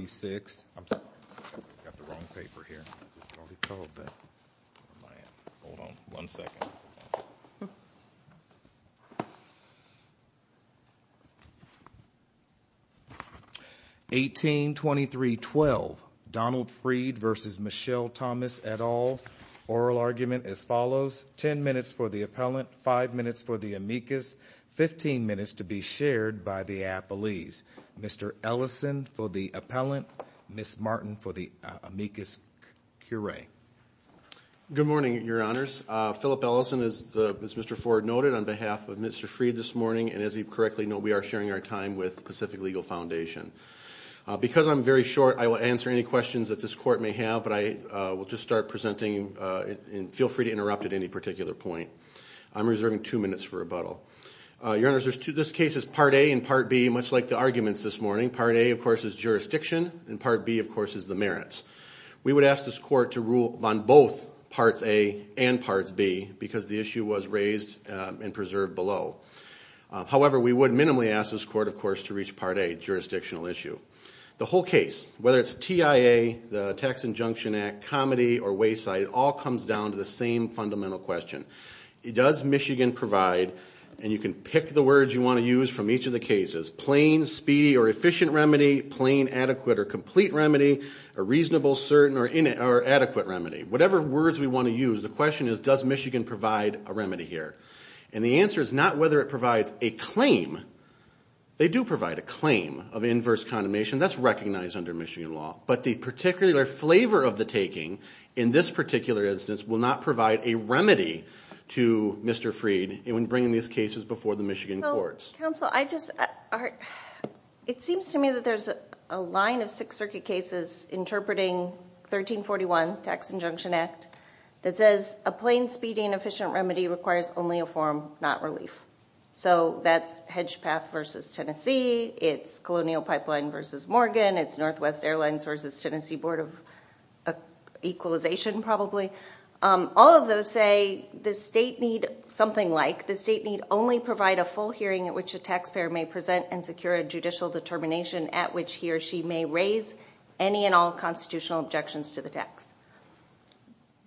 1823.12 Donald Freed v. Michelle Thomas et al. Oral argument as follows, 10 minutes for the appellant, 5 minutes for the amicus, 15 minutes to be shared by the appellees. Mr. Ellison for the appellant, Ms. Martin for the amicus curiae. Good morning, your honors. Philip Ellison, as Mr. Ford noted, on behalf of Mr. Freed this morning, and as you correctly know, we are sharing our time with Pacific Legal Foundation. Because I'm very short, I will answer any questions that this court may have, but I will just start presenting. Feel free to interrupt at any particular point. I'm reserving two minutes for rebuttal. Your Part A, of course, is jurisdiction, and Part B, of course, is the merits. We would ask this court to rule on both Parts A and Parts B because the issue was raised and preserved below. However, we would minimally ask this court, of course, to reach Part A, jurisdictional issue. The whole case, whether it's TIA, the Tax Injunction Act, Comedy, or Wayside, all comes down to the same fundamental question. Does Michigan provide, and you can pick the term, speedy or efficient remedy, plain, adequate, or complete remedy, a reasonable, certain, or adequate remedy? Whatever words we want to use, the question is, does Michigan provide a remedy here? And the answer is not whether it provides a claim. They do provide a claim of inverse condemnation. That's recognized under Michigan law. But the particular flavor of the taking, in this particular instance, will not provide a remedy to Mr. Freed when bringing these cases before the Michigan courts. Counsel, I just... It seems to me that there's a line of Sixth Circuit cases interpreting 1341, Tax Injunction Act, that says a plain, speedy, and efficient remedy requires only a form, not relief. So that's Hedgepath versus Tennessee. It's Colonial Pipeline versus Morgan. It's Northwest Airlines versus Tennessee Board of Equalization, probably. All of those say the state need something like, the state need only provide a full hearing at which a taxpayer may present and secure a judicial determination at which he or she may raise any and all constitutional objections to the tax.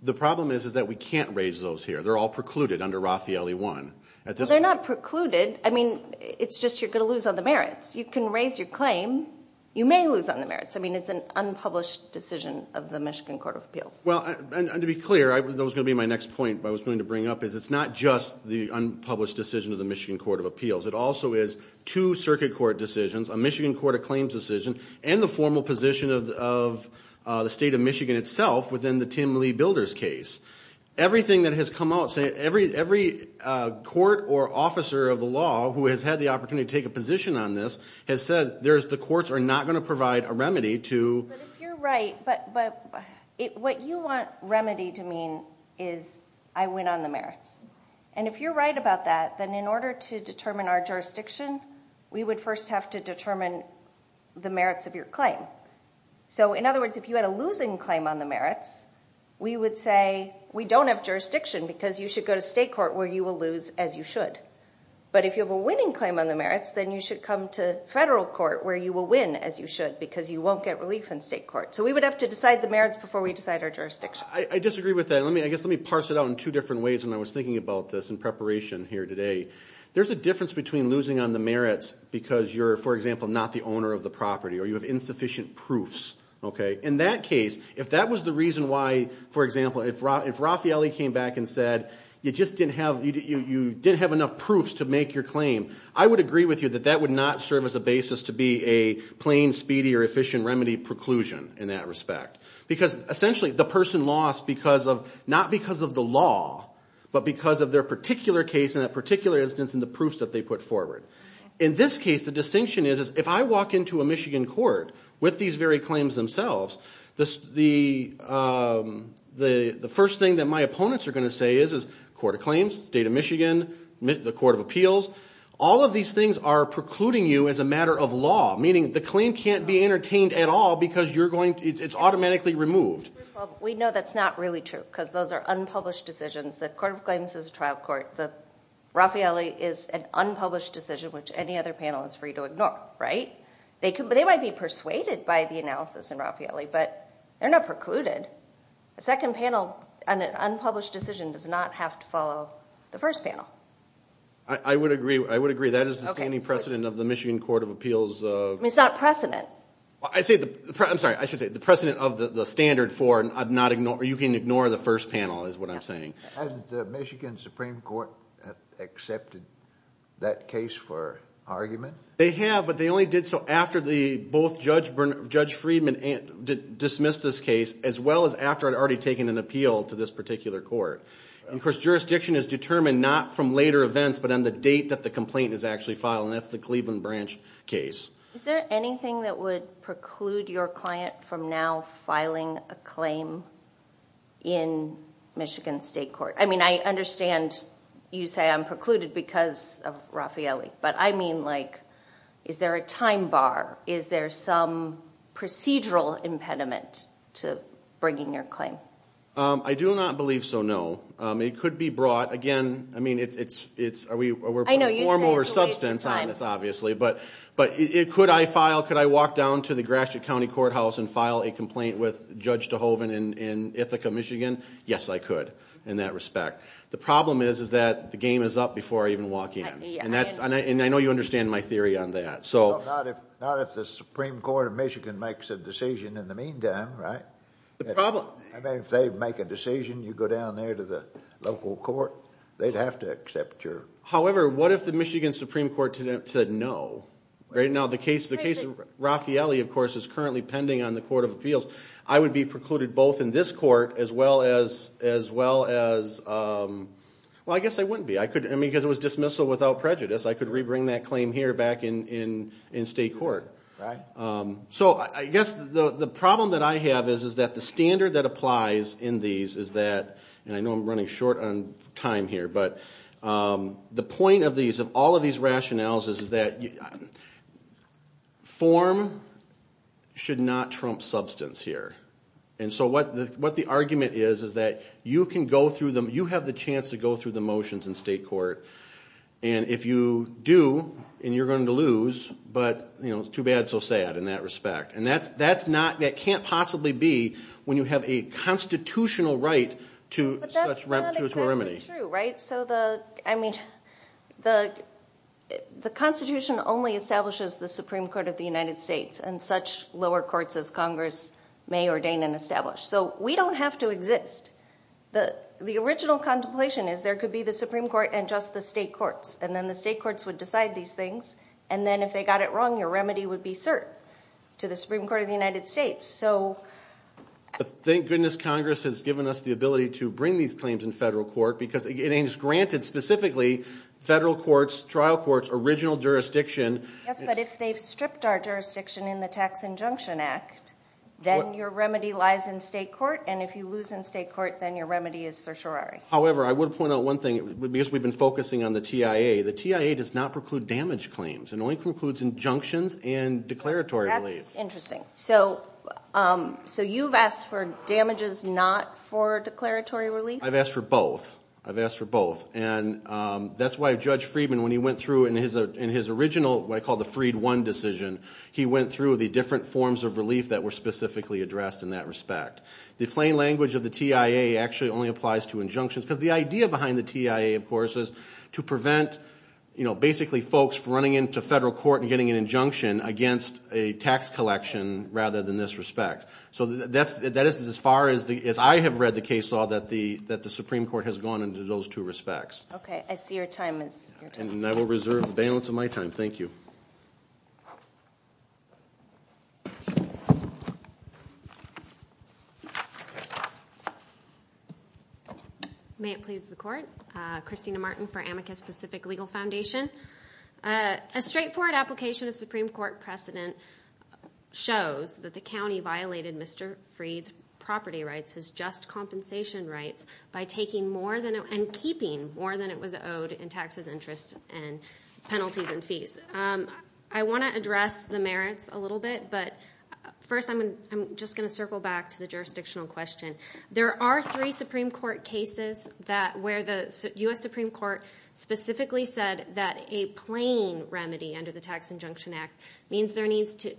The problem is, is that we can't raise those here. They're all precluded under Raffaele 1. They're not precluded. I mean, it's just you're going to lose on the merits. You can raise your claim. You may lose on the merits. I mean, it's an unpublished decision of the Michigan Court of Appeals. Well, and to be clear, that was going to be my next point, but I was going to bring up is it's not just the unpublished decision of the Michigan Court of Appeals. It also is two circuit court decisions, a Michigan Court of Claims decision, and the formal position of the state of Michigan itself within the Tim Lee Builders case. Everything that has come out, every court or officer of the law who has had the opportunity to take a position on this has said, the courts are not going to provide a remedy to- But if you're right, but what you want remedy to mean is, I win on the merits. And if you're right about that, then in order to determine our jurisdiction, we would first have to determine the merits of your claim. So in other words, if you had a losing claim on the merits, we would say, we don't have jurisdiction because you should go to state court where you will lose as you should. But if you have a winning claim on the merits, then you should come to federal court where you will win as you should because you won't get relief in state court. So we would have to decide the merits before we decide our jurisdiction. I disagree with that. I guess let me parse it out in two different ways when I was thinking about this in preparation here today. There's a difference between losing on the merits because you're, for example, not the owner of the property, or you have insufficient proofs. In that case, if that was the reason why, for example, if Raffaele came back and said you just didn't have enough proofs to make your claim, I would agree with you that that would not serve as a basis to be a plain, speedy, or efficient remedy preclusion in that respect. Because essentially, the person lost not because of the law, but because of their particular case and that particular instance in the proofs that they put forward. In this case, the distinction is if I walk into a Michigan court with these very claims themselves, the first thing that my opponents are going to say is, court of claims, state of Michigan, the court of appeals, all of these things are precluding you as a matter of law, meaning the claim can't be entertained at all because it's automatically removed. We know that's not really true because those are unpublished decisions. The court of claims is a trial court. Raffaele is an unpublished decision, which any other panel is free to ignore. They might be persuaded by the analysis in Raffaele, but they're not precluded. The unpublished decision does not have to follow the first panel. I would agree. I would agree. That is the standing precedent of the Michigan court of appeals. It's not precedent. I'm sorry. I should say the precedent of the standard for you can ignore the first panel is what I'm saying. Hasn't the Michigan Supreme Court accepted that case for argument? They have, but they only did so after both Judge Friedman dismissed this case as well as after I'd already taken an appeal to this particular court. Of course, jurisdiction is determined not from later events, but on the date that the complaint is actually filed, and that's the Cleveland Branch case. Is there anything that would preclude your client from now filing a claim in Michigan State Court? I understand you say I'm precluded because of Raffaele, but I mean, is there a time bar? Is there some procedural impediment to bringing your claim? I do not believe so, no. It could be brought. Again, I mean, we're putting a form over substance on this, obviously, but could I walk down to the Gratiot County Courthouse and file a complaint with Judge DeHoven in Ithaca, Michigan? Yes, I could in that respect. The problem is that the game is up before I even walk in, and I know you understand my theory on that. Not if the Supreme Court of Michigan makes a decision in the meantime, right? The problem... I mean, if they make a decision, you go down there to the local court, they'd have to accept your... However, what if the Michigan Supreme Court said no? Right now, the case of Raffaele, of course, is currently pending on the Court of Appeals. I would be precluded both in this court as well as, well, I guess I wouldn't be. I mean, because it was dismissal without prejudice, I could re-bring that claim here back in state court. Right. So, I guess the problem that I have is that the standard that applies in these is that, and I know I'm running short on time here, but the point of all of these rationales is that form should not trump substance here. And so what the argument is is that you can go through them, you have the chance to go through the motions in state court, and if you do, and you're going to lose, but, you know, it's too bad, so sad in that respect. And that's not... That can't possibly be when you have a constitutional right to such remedy. But that's not exactly true, right? So the, I mean, the Constitution only establishes the Supreme Court of the United States, and such lower courts as Congress may ordain and The original contemplation is there could be the Supreme Court and just the state courts, and then the state courts would decide these things, and then if they got it wrong, your remedy would be cert to the Supreme Court of the United States. So... Thank goodness Congress has given us the ability to bring these claims in federal court, because it is granted specifically federal courts, trial courts, original jurisdiction. Yes, but if they've stripped our jurisdiction in the Tax Injunction Act, then your remedy lies in state court, and if you lose in state court, then your remedy is certiorari. However, I would point out one thing, because we've been focusing on the TIA. The TIA does not preclude damage claims. It only precludes injunctions and declaratory relief. That's interesting. So you've asked for damages not for declaratory relief? I've asked for both. I've asked for both. And that's why Judge Friedman, when he went through in his original, what I call the freed one decision, he went through the different forms of relief that were specifically addressed in that respect. The plain language of the TIA actually only applies to injunctions, because the idea behind the TIA, of course, is to prevent, you know, basically folks running into federal court and getting an injunction against a tax collection rather than this respect. So that is as far as I have read the case law that the Supreme Court has gone into those two respects. Okay. I see your time is... And I will reserve the balance of my time. Thank you. May it please the Court. Christina Martin for Amicus Pacific Legal Foundation. A straightforward application of Supreme Court precedent shows that the county violated Mr. Fried's property rights, his just compensation rights, by taking more than... and keeping more than it was in penalties and fees. I want to address the merits a little bit, but first I'm just going to circle back to the jurisdictional question. There are three Supreme Court cases where the U.S. Supreme Court specifically said that a plain remedy under the Tax Injunction Act means there needs to...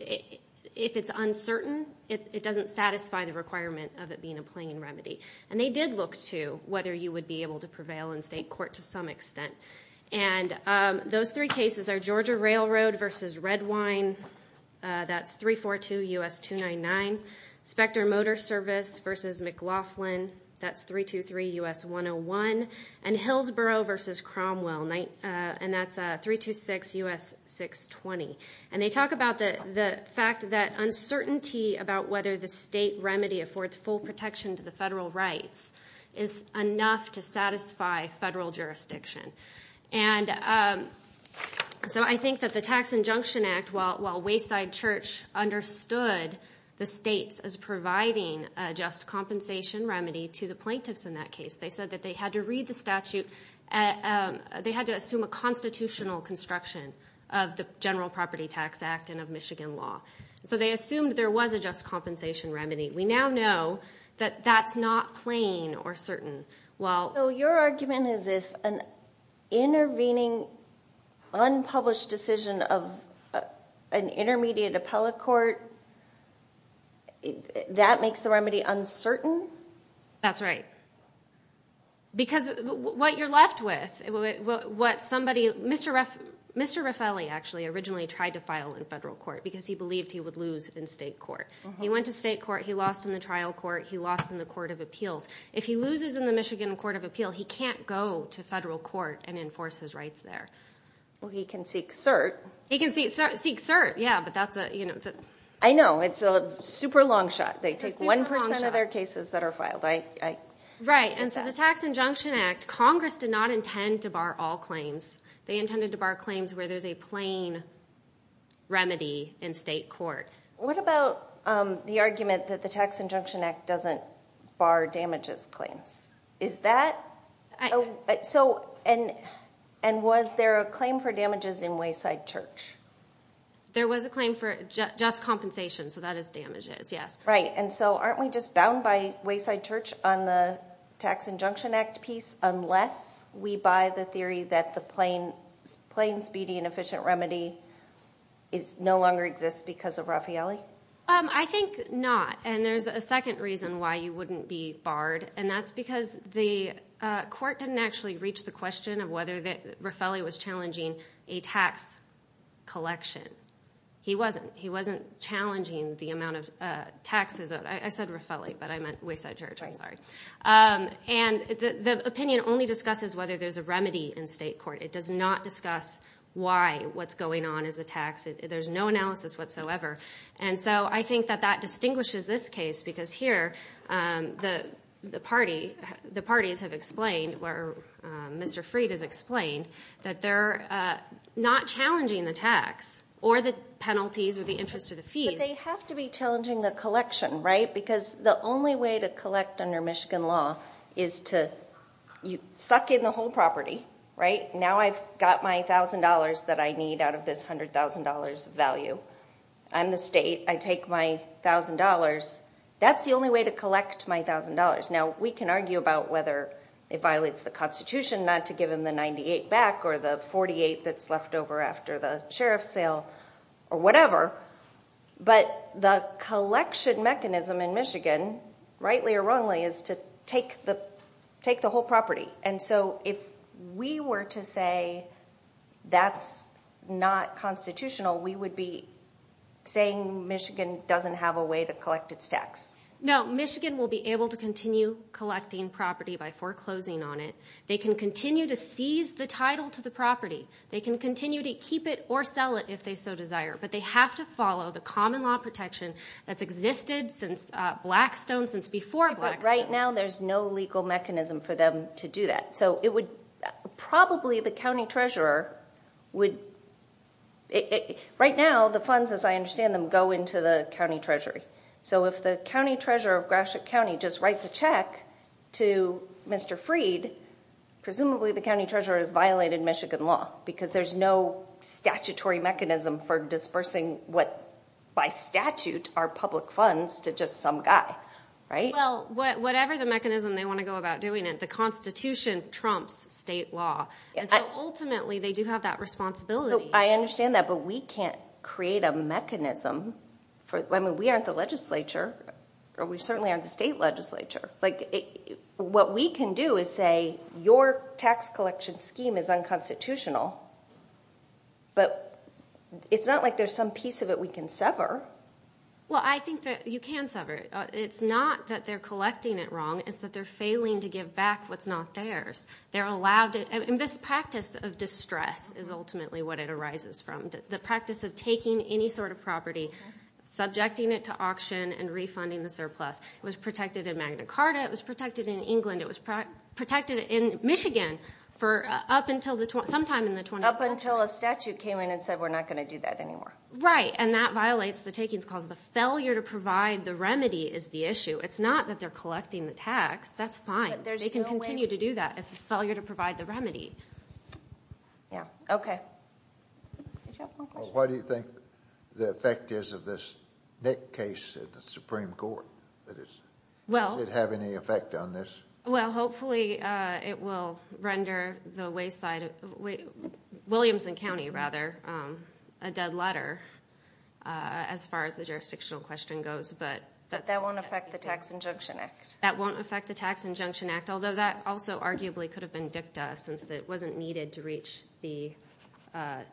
if it's uncertain, it doesn't satisfy the requirement of it being a plain remedy. And they did look to whether you would be able to prevail in state court to some extent. And those three cases are Georgia Railroad versus Redwine, that's 342 U.S. 299. Specter Motor Service versus McLaughlin, that's 323 U.S. 101. And Hillsboro versus Cromwell, and that's 326 U.S. 620. And they talk about the fact that uncertainty about whether the state remedy affords full protection to the federal rights is enough to satisfy federal jurisdiction. And so I think that the Tax Injunction Act, while Wayside Church understood the states as providing a just compensation remedy to the plaintiffs in that case, they said that they had to read the statute... they had to assume a constitutional construction of the General Property Tax Act and of Michigan law. So they assumed there was a just compensation remedy. We now know that that's not plain or certain. So your argument is if an intervening, unpublished decision of an intermediate appellate court, that makes the remedy uncertain? That's right. Because what you're left with, what somebody... Mr. Raffelli actually originally tried to file in federal court because he believed he would lose in state court. He went to state court, he lost in the trial court, he lost in the court of appeals. If he loses in the Michigan Court of Appeal, he can't go to federal court and enforce his rights there. Well, he can seek cert. He can seek cert, yeah, but that's a... I know. It's a super long shot. They take 1% of their cases that are filed. Right. And so the Tax Injunction Act, Congress did not intend to bar all claims. They intended to bar claims where there's a plain remedy in state court. What about the argument that the Tax Injunction Act doesn't bar damages claims? Is that... And was there a claim for damages in Wayside Church? There was a claim for just compensation, so that is damages, yes. Right. And so aren't we just bound by Wayside Church on the Tax Injunction Act piece unless we buy the theory that the plain, speedy and efficient remedy no longer exists because of Raffaelli? I think not. And there's a second reason why you wouldn't be barred, and that's because the court didn't actually reach the question of whether Raffaelli was challenging a tax collection. He wasn't. He wasn't challenging the amount of taxes. I said Raffaelli, but the opinion only discusses whether there's a remedy in state court. It does not discuss why what's going on is a tax. There's no analysis whatsoever. And so I think that that distinguishes this case because here the parties have explained, or Mr. Freed has explained, that they're not challenging the tax or the penalties or the interest or the fees. But they have to be challenging the collection, right? Because the only way to collect under Michigan law is to suck in the whole property, right? Now I've got my $1,000 that I need out of this $100,000 value. I'm the state. I take my $1,000. That's the only way to collect my $1,000. Now we can argue about whether it violates the Constitution not to give him the 98 back or the 48 that's left over after the sheriff's sale or whatever. But the collection mechanism in Michigan, rightly or wrongly, is to take the whole property. And so if we were to say that's not constitutional, we would be saying Michigan doesn't have a way to collect its tax. No. Michigan will be able to continue collecting property by foreclosing on it. They can continue to seize the title to the property. They can continue to keep it or sell it if they so wanted since Blackstone, since before Blackstone. Right now there's no legal mechanism for them to do that. So it would probably the county treasurer would... Right now the funds, as I understand them, go into the county treasury. So if the county treasurer of Gratiot County just writes a check to Mr. Freed, presumably the county treasurer has violated Michigan law because there's no statutory mechanism for dispersing what by statute are public funds to just some guy, right? Well, whatever the mechanism they want to go about doing it, the Constitution trumps state law. And so ultimately they do have that responsibility. I understand that, but we can't create a mechanism for... I mean, we aren't the legislature or we certainly aren't the state legislature. What we can do is say your tax collection scheme is unconstitutional, but it's not like there's some piece of it we can sever. Well, I think that you can sever it. It's not that they're collecting it wrong. It's that they're failing to give back what's not theirs. They're allowed to... And this practice of distress is ultimately what it arises from. The practice of taking any sort of property, subjecting it to auction and refunding the surplus. It was protected in Magna Carta. It was protected in England. It was protected in Michigan for up until sometime in the 20th century. Up until a statute came in and said, we're not going to do that anymore. Right. And that violates the takings clause. The failure to provide the remedy is the issue. It's not that they're collecting the tax. That's fine. They can continue to do that. It's a failure to provide the remedy. Yeah. Okay. Did you have one question? Well, what do you think the effect is of this case in the Supreme Court? Does it have any effect on this? Well, hopefully it will render the Wayside... Williamson County, rather, a dead letter as far as the jurisdictional question goes. But that won't affect the Tax Injunction Act. That won't affect the Tax Injunction Act, although that also arguably could have been dicta since it wasn't needed to reach the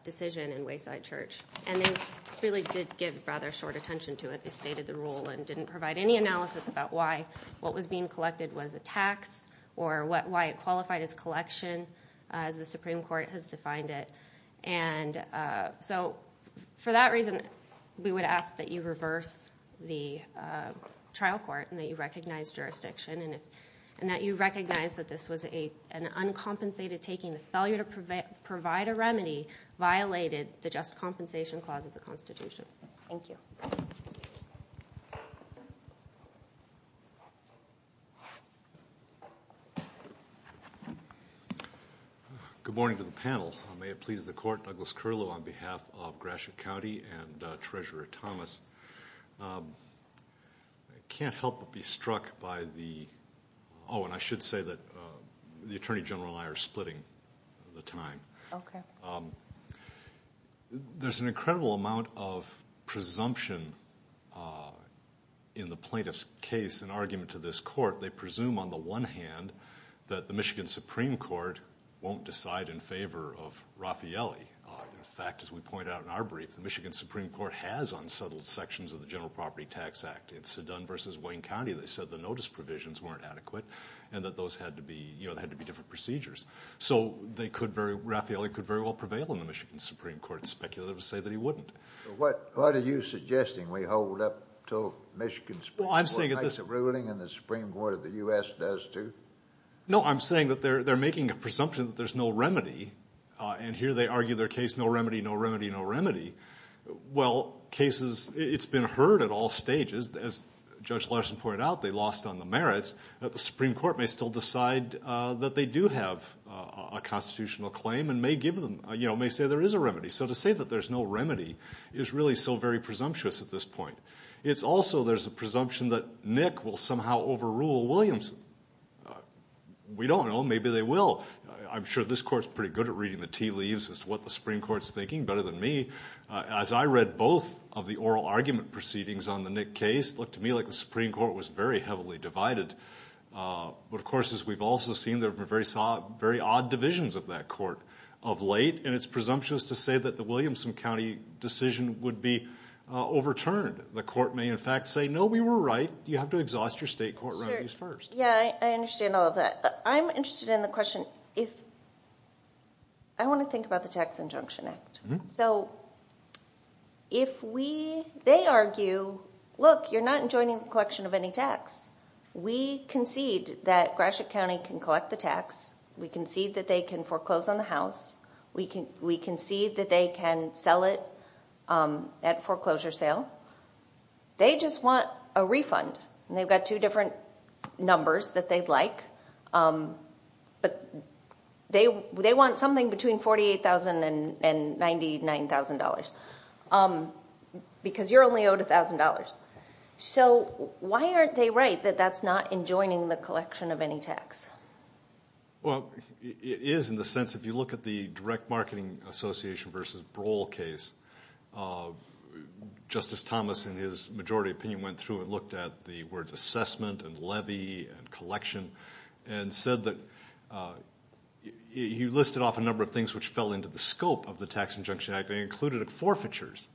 decision in Wayside Church. And they really did give rather short attention to it. They stated the rule and didn't provide any analysis about why what was being collected was a tax or why it qualified as collection as the Supreme Court has defined it. And so for that reason, we would ask that you reverse the trial court and that you recognize jurisdiction and that you recognize that this was an uncompensated taking. The failure to provide a remedy violated the Just Compensation Clause of the Constitution. Thank you. Good morning to the panel. May it please the Court, Douglas Curlow on behalf of Gratiot County and Treasurer Thomas. I can't help but be struck by the... Oh, and I should say that the Attorney General and I are splitting the time. There's an incredible amount of presumption in the plaintiff's case and argument to this Court. They presume, on the one hand, that the Michigan Supreme Court won't decide in favor of Raffaelli. In fact, as we point out in our brief, the Michigan Supreme Court has unsettled sections of the General Property Tax Act. In Seddon v. Wayne County, they said the notice provisions weren't adequate and that those had to be different procedures. So Raffaelli could very well prevail in the Michigan Supreme Court's speculative to say that he wouldn't. What are you suggesting? We hold up until Michigan Supreme Court makes a ruling and the Supreme Court of the U.S. does too? No, I'm saying that they're making a presumption that there's no remedy. And here they argue their case, no remedy, no case. It's been heard at all stages. As Judge Larson pointed out, they lost on the merits. The Supreme Court may still decide that they do have a constitutional claim and may say there is a remedy. So to say that there's no remedy is really so very presumptuous at this point. It's also there's a presumption that Nick will somehow overrule Williamson. We don't know. Maybe they will. I'm sure this Court's pretty good at reading the tea leaves as to what the Supreme Court's thinking better than me. As I read both of the oral argument proceedings on the Nick case, it looked to me like the Supreme Court was very heavily divided. But of course, as we've also seen, there have been very odd divisions of that court of late. And it's presumptuous to say that the Williamson County decision would be overturned. The court may in fact say, no, we were right. You have to exhaust your state court remedies first. Yeah, I understand all of that. I'm interested in the question. I want to think about the Tax Injunction Act. So if we, they argue, look, you're not enjoining the collection of any tax. We concede that Gratiot County can collect the tax. We concede that they can foreclose on the house. We concede that they can sell it at foreclosure sale. They just want a refund. And they've got two different numbers that they'd like. But they want something between $48,000 and $99,000, because you're only owed $1,000. So why aren't they right that that's not enjoining the collection of any tax? Well, it is in the sense, if you look at the Direct Marketing Association v. Broll case, Justice Thomas, in his majority opinion, went through and looked at the words assessment and levy and collection and said that he listed off a number of things which fell into the scope of the Tax Injunction Act. They included forfeitures.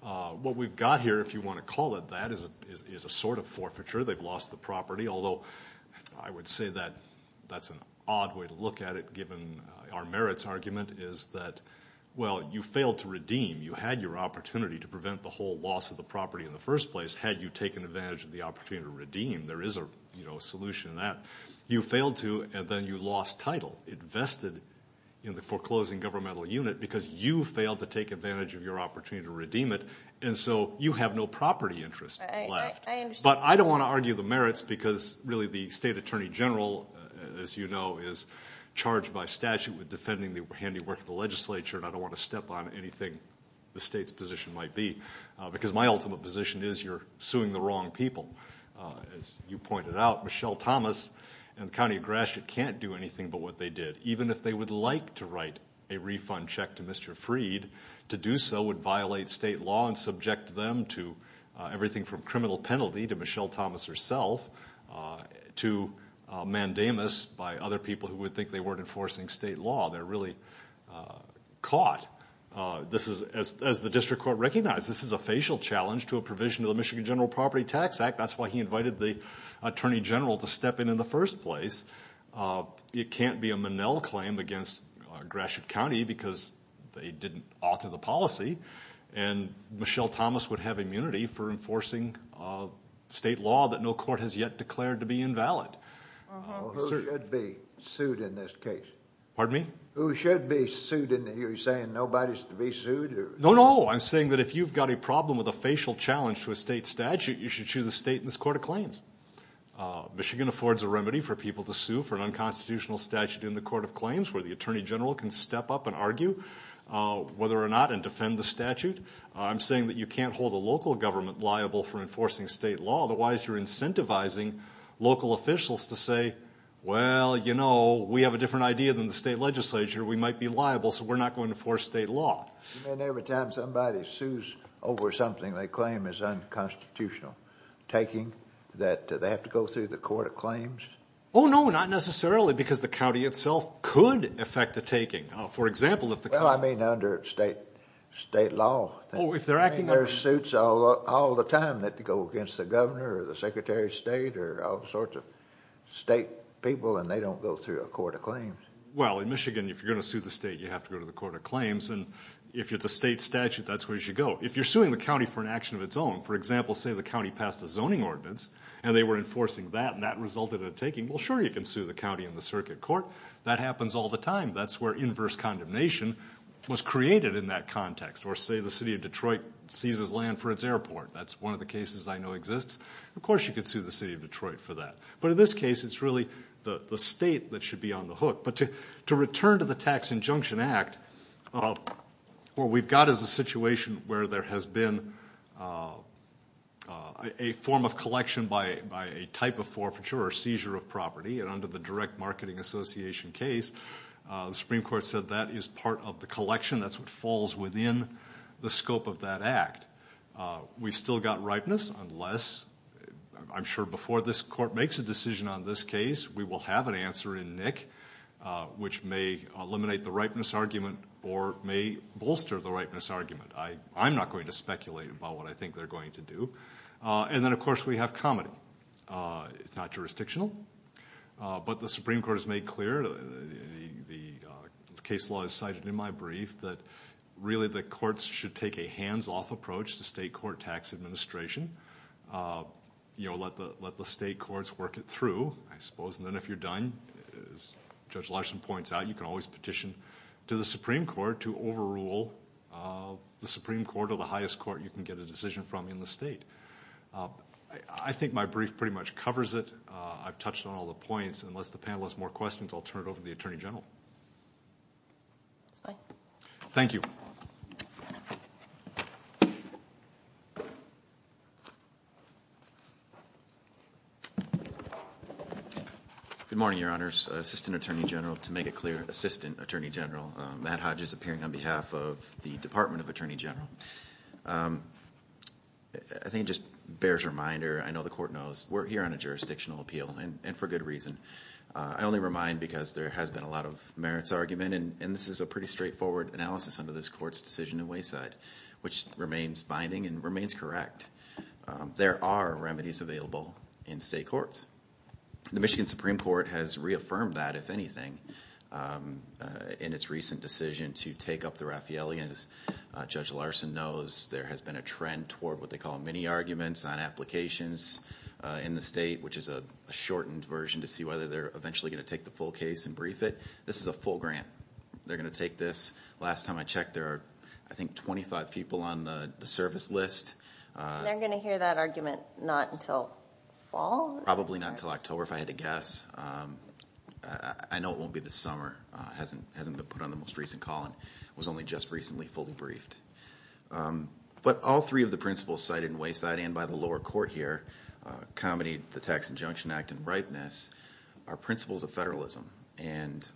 What we've got here, if you want to call it that, is a sort of forfeiture. They've lost the property, although I would say that that's an odd way to look at it, given our merits argument, is that, well, you failed to redeem. You had your opportunity to prevent the whole loss of the property in the first place had you taken advantage of the opportunity to redeem. There is a solution in that. You failed to, and then you lost title. It vested in the foreclosing governmental unit because you failed to take advantage of your opportunity to redeem it. And so you have no property interest left. I understand. But I don't want to argue the merits because, really, the State Attorney General, as you know, is charged by statute with defending the handiwork of the legislature. And I don't want to step on anything the State's position might be because my ultimate position is you're suing the wrong people. As you pointed out, Michelle Thomas and the County of Gratiot can't do anything but what they did. Even if they would like to write a refund check to Mr. Freed, to do so would violate state law and subject them to everything from criminal penalty to Michelle Thomas herself to mandamus by other people who would think they weren't enforcing state law. They're really caught. This is, as the District Court recognized, this is a facial challenge to a provision of the Michigan General Property Tax Act. That's why he invited the Attorney General to step in in the first place. It can't be a Monell claim against Gratiot County because they didn't author the policy. And Michelle Thomas would have immunity for enforcing state law that no court has yet declared to be invalid. Who should be sued in this case? Pardon me? Who should be sued? Are you saying nobody should be sued? No, no. I'm saying that if you've got a problem with a facial challenge to a state statute, you should choose a state in this Court of Claims. Michigan affords a remedy for people to sue for an unconstitutional statute in the Court of Claims where the Attorney General can step up and argue whether or not and defend the statute. I'm saying that you can't hold a local government liable for enforcing state law. Otherwise, you're incentivizing local officials to say, well, you know, we have a different idea than the state legislature. We might be liable, so we're not going to enforce state law. You mean every time somebody sues over something they claim is unconstitutional taking that they have to go through the Court of Claims? Oh, no, not necessarily because the county itself could affect the taking. For example, if the county... Well, I mean under state law. Oh, if they're acting... I mean there are suits all the time that go against the governor or the secretary of state or all sorts of state people and they don't go through a Court of Claims. Well, in Michigan, if you're going to sue the state, you have to go to the Court of Claims. And if it's a state statute, that's where you should go. If you're suing the county for an action of its own, for example, say the county passed a zoning ordinance and they were enforcing that and that resulted in a taking, well, sure, you can sue the county in the circuit court. That happens all the time. That's where inverse condemnation was created in that context. Or say the city of Detroit seizes land for its airport. That's one of the cases I know exists. Of course you could sue the city of Detroit for that. But in this case, it's really the state that should be on the hook. But to return to the Tax Injunction Act, what we've got is a situation where there has been a form of collection by a type of forfeiture or seizure of property. And under the Direct Marketing Association case, the Supreme Court said that is part of the collection. That's what falls within the scope of that act. We've still got ripeness unless, I'm sure before this Court makes a decision on this case, we will have an answer in Nick which may eliminate the ripeness argument or may bolster the ripeness argument. I'm not going to speculate about what I think they're going to do. And then of course we have comedy. It's not jurisdictional. But the Supreme Court has made clear, the case law is cited in my brief, that really the courts should take a hands-off approach to state court tax administration. Let the state courts work it through, I suppose. And then if you're done, as Judge Larson points out, you can always petition to the Supreme Court to overrule the Supreme Court or the highest court you can get a decision from in the state. I think my brief pretty much covers it. I've got a few more questions. I'll turn it over to the Attorney General. Thank you. Good morning, Your Honors. Assistant Attorney General, to make it clear, Assistant Attorney General. Matt Hodges appearing on behalf of the Department of Attorney General. I think it just bears reminder, I know the Court knows, we're here on a fine because there has been a lot of merits argument. And this is a pretty straightforward analysis under this Court's decision in Wayside, which remains binding and remains correct. There are remedies available in state courts. The Michigan Supreme Court has reaffirmed that, if anything, in its recent decision to take up the Raffaele. And as Judge Larson knows, there has been a trend toward what they call mini-arguments on applications in the state, which is a shortened version to see whether they're eventually going to take the full case and brief it. This is a full grant. They're going to take this. Last time I checked, there are, I think, 25 people on the service list. They're going to hear that argument not until fall? Probably not until October, if I had to guess. I know it won't be this summer. It hasn't been put on the most recent call and was only just recently fully briefed. But all three of the principles cited in Wayside and by the lower court here, comedy, the Tax Injunction Act, and ripeness, are principles of federalism. And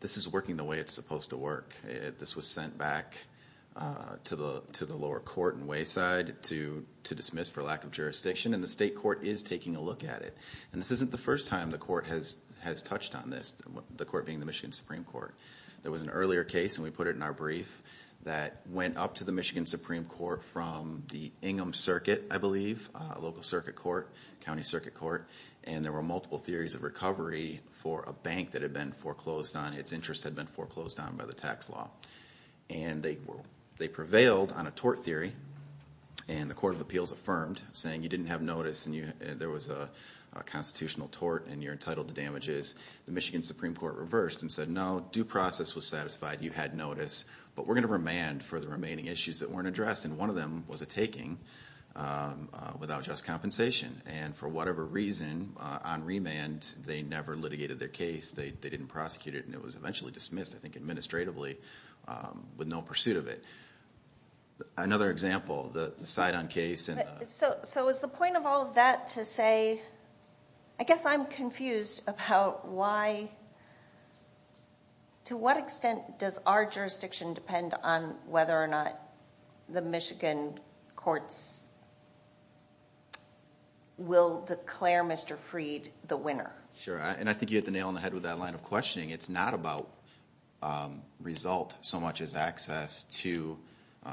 this is working the way it's supposed to work. This was sent back to the lower court in Wayside to dismiss for lack of jurisdiction, and the state court is taking a look at it. And this isn't the first time the court has touched on this, the court being the Michigan Supreme Court. There was an earlier case, and we put it in our brief, that County Circuit Court, and there were multiple theories of recovery for a bank that had been foreclosed on, its interest had been foreclosed on by the tax law. And they prevailed on a tort theory, and the Court of Appeals affirmed, saying you didn't have notice and there was a constitutional tort and you're entitled to damages. The Michigan Supreme Court reversed and said, no, due process was satisfied, you had notice, but we're going to remand for the remaining issues that weren't legally taking without just compensation. And for whatever reason, on remand, they never litigated their case, they didn't prosecute it, and it was eventually dismissed, I think administratively, with no pursuit of it. Another example, the side-on case. So is the point of all of that to say, I guess I'm confused about why, to what extent courts will declare Mr. Freed the winner? Sure, and I think you hit the nail on the head with that line of questioning. It's not about result so much as access to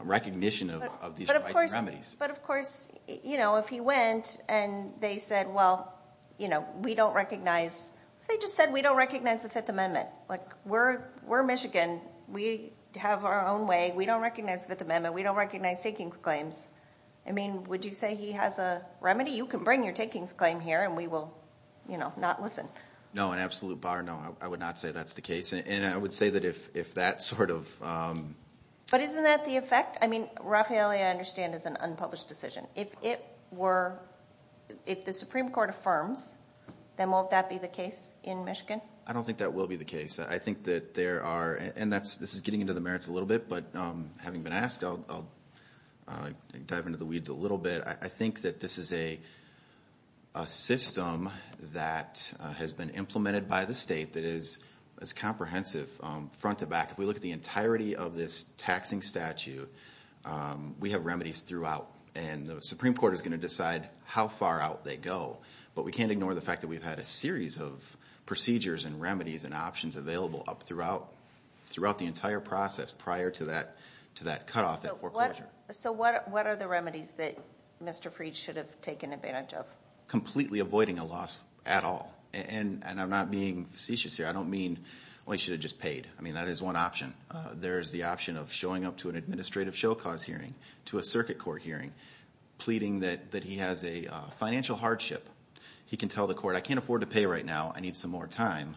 recognition of these rights and remedies. But of course, you know, if he went and they said, well, you know, we don't recognize, they just said we don't recognize the Fifth Amendment. Like, we're Michigan, we have our own way, we don't recognize the Fifth Amendment, we don't recognize takings claims. I mean, would you say he has a remedy? You can bring your takings claim here and we will, you know, not listen. No, an absolute bar, no. I would not say that's the case. And I would say that if that sort of... But isn't that the effect? I mean, Raffaele, I understand, is an unpublished decision. If it were, if the Supreme Court affirms, then won't that be the case in Michigan? I don't think that will be the case. I think that there are, and this is getting into the merits a little bit, but having been asked, I'll dive into the weeds a little bit. I think that this is a system that has been implemented by the state that is comprehensive front to back. If we look at the entirety of this taxing statute, we have remedies throughout. And the Supreme Court is going to decide how far out they go. But we can't ignore the fact that we've had a series of procedures and remedies and options available up throughout, throughout the entire process prior to that cutoff at foreclosure. So what are the remedies that Mr. Fried should have taken advantage of? Completely avoiding a loss at all. And I'm not being facetious here. I don't mean, well, he should have just paid. I mean, that is one option. There is the option of showing up to an administrative show cause hearing, to a circuit court hearing, pleading that he has a financial hardship. He can tell the court, I can't afford to pay right now. I need some more time.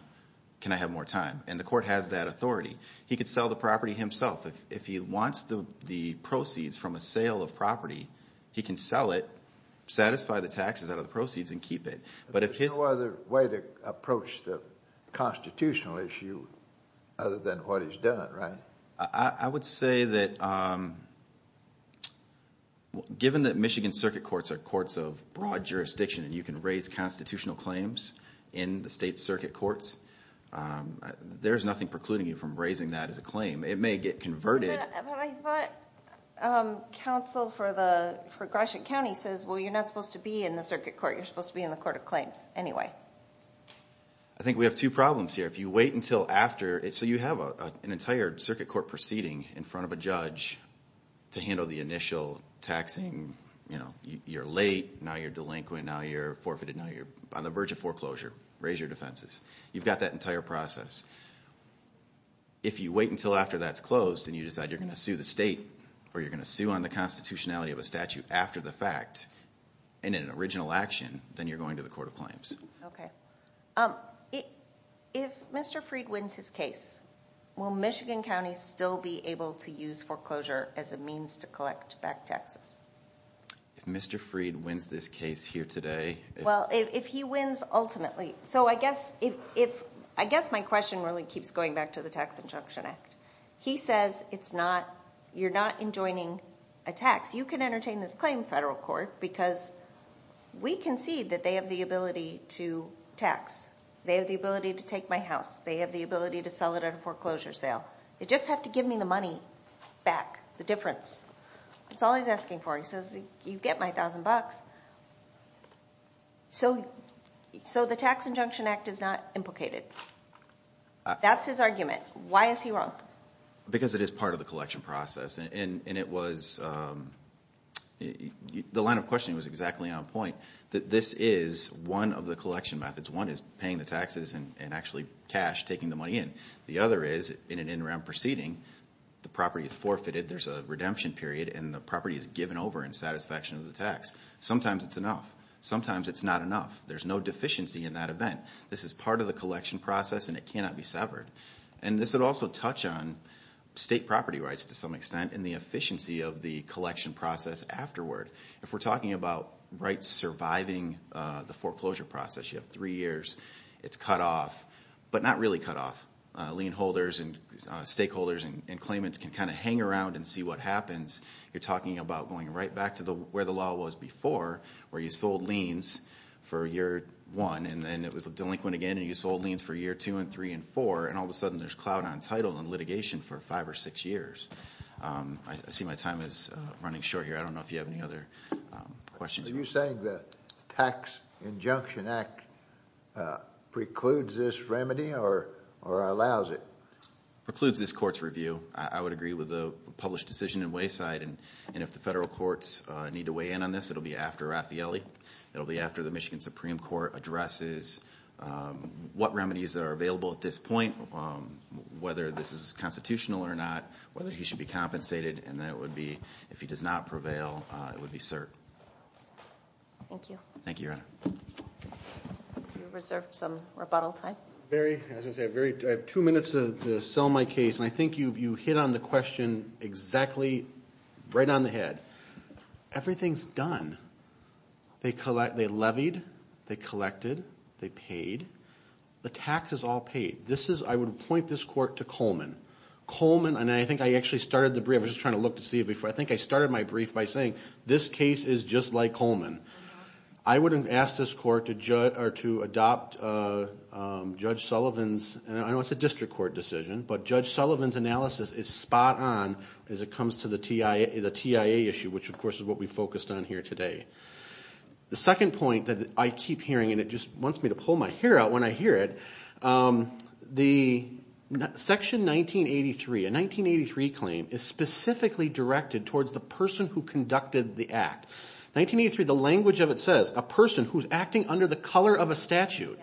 Can I have more time? And the court can sell the property himself. If he wants the proceeds from a sale of property, he can sell it, satisfy the taxes out of the proceeds and keep it. But if his... There's no other way to approach the constitutional issue other than what he's done, right? I would say that given that Michigan circuit courts are courts of broad jurisdiction and you can raise constitutional claims in the state circuit courts, there's nothing precluding you from raising that as a claim. It may get converted. But I thought counsel for Gratiot County says, well, you're not supposed to be in the circuit court. You're supposed to be in the court of claims anyway. I think we have two problems here. If you wait until after... So you have an entire circuit court proceeding in front of a judge to handle the initial taxing. You're late, now you're delinquent, now you're forfeited, now you're on the fence. You've got that entire process. If you wait until after that's closed and you decide you're going to sue the state or you're going to sue on the constitutionality of a statute after the fact in an original action, then you're going to the court of claims. Okay. If Mr. Freed wins his case, will Michigan County still be able to use foreclosure as a means to collect back taxes? If Mr. Freed wins this case here today... Well, if he wins ultimately. So I guess my question really keeps going back to the Tax Injunction Act. He says you're not enjoining a tax. You can entertain this claim in federal court because we concede that they have the ability to tax. They have the ability to take my house. They have the ability to sell it at a foreclosure sale. They just have to give me the money back, the difference. That's all he's asking for. He says you get my thousand bucks. So the Tax Injunction Act is not implicated. That's his argument. Why is he wrong? Because it is part of the collection process. And it was... the line of questioning was exactly on point. This is one of the collection methods. One is paying the taxes and actually cash, taking the money in. The other is in an redemption period and the property is given over in satisfaction of the tax. Sometimes it's enough. Sometimes it's not enough. There's no deficiency in that event. This is part of the collection process and it cannot be severed. And this would also touch on state property rights to some extent and the efficiency of the collection process afterward. If we're talking about rights surviving the foreclosure process, you have three years. It's cut off, but not really cut off. You're talking about how lien holders and stakeholders and claimants can kind of hang around and see what happens. You're talking about going right back to where the law was before where you sold liens for year one and then it was delinquent again and you sold liens for year two and three and four and all of a sudden there's clout on title and litigation for five or six years. I see my time is running short here. I don't know if you have any other questions. Are you saying the Tax Injunction Act precludes this remedy or allows it? Precludes this court's review. I would agree with the published decision in Wayside and if the federal courts need to weigh in on this, it will be after Raffaelli. It will be after the Michigan Supreme Court addresses what remedies are available at this point, whether this is constitutional or not, whether he should be compensated and if he does not prevail, it would be cert. Thank you. Thank you, Your Honor. We reserve some rebuttal time. Barry, I have two minutes to sell my case and I think you hit on the question exactly right on the head. Everything's done. They levied, they collected, they paid. The tax is all paid. I would point this court to Coleman. Coleman and I think I actually started the brief. I was just trying to look to see it before. I think I started my brief by saying this case is just like Coleman. I would ask this court to adopt Judge Sullivan's, I know it's a district court decision, but Judge Sullivan's analysis is spot on as it comes to the TIA issue, which of course is what we focused on here today. The second point that I keep hearing and it just wants me to pull my hair out when I hear it, the section 1983, a 1983 claim is specifically directed towards the person who conducted the act. 1983, the language of it says a person who's acting under the color of a statute.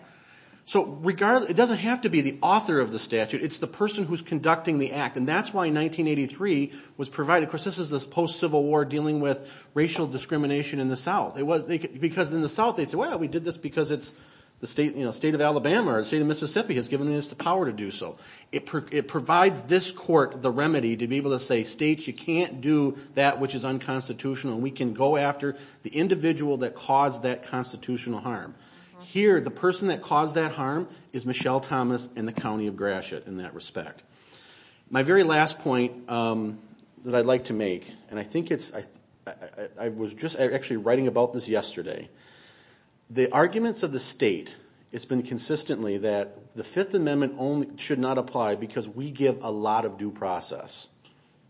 So it doesn't have to be the author of the statute, it's the person who's conducting the act. And that's why 1983 was provided. Of course, this is this post-Civil War dealing with racial discrimination in the South. Because in the South they'd say, well, we did this because the state of Alabama or the state of Mississippi has given us the power to do so. It provides this court the remedy to be able to say, states, you can't do that which is unconstitutional. We can go after the individual that caused that constitutional harm. Here, the person that caused that harm is Michelle Thomas and the County of Gratiot in that respect. My very last point that I'd like to make, and I think it's, I was just actually writing about this yesterday. The arguments of the state, it's been consistently that the Fifth Amendment should not apply because we give a lot of due process.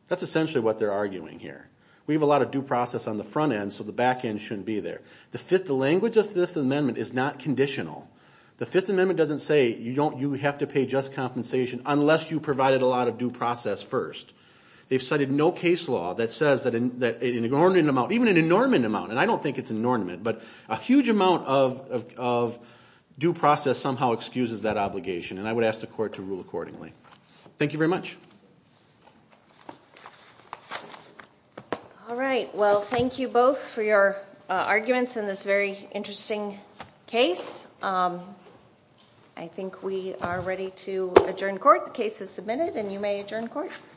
That's essentially what they're arguing here. We have a lot of due process on the front end, so the back end shouldn't be there. The language of the Fifth Amendment is not conditional. The Fifth Amendment doesn't say you have to pay just compensation unless you provided a lot of due process first. They've cited no case law that says that an inordinate amount, even an inornment amount, and I don't think it's inornment, but a huge amount of due process somehow excuses that obligation, and I would ask the court to rule accordingly. Thank you very much. All right. Well, thank you both for your arguments in this very interesting case. I think we are ready to adjourn court. The case is submitted, and you may adjourn court.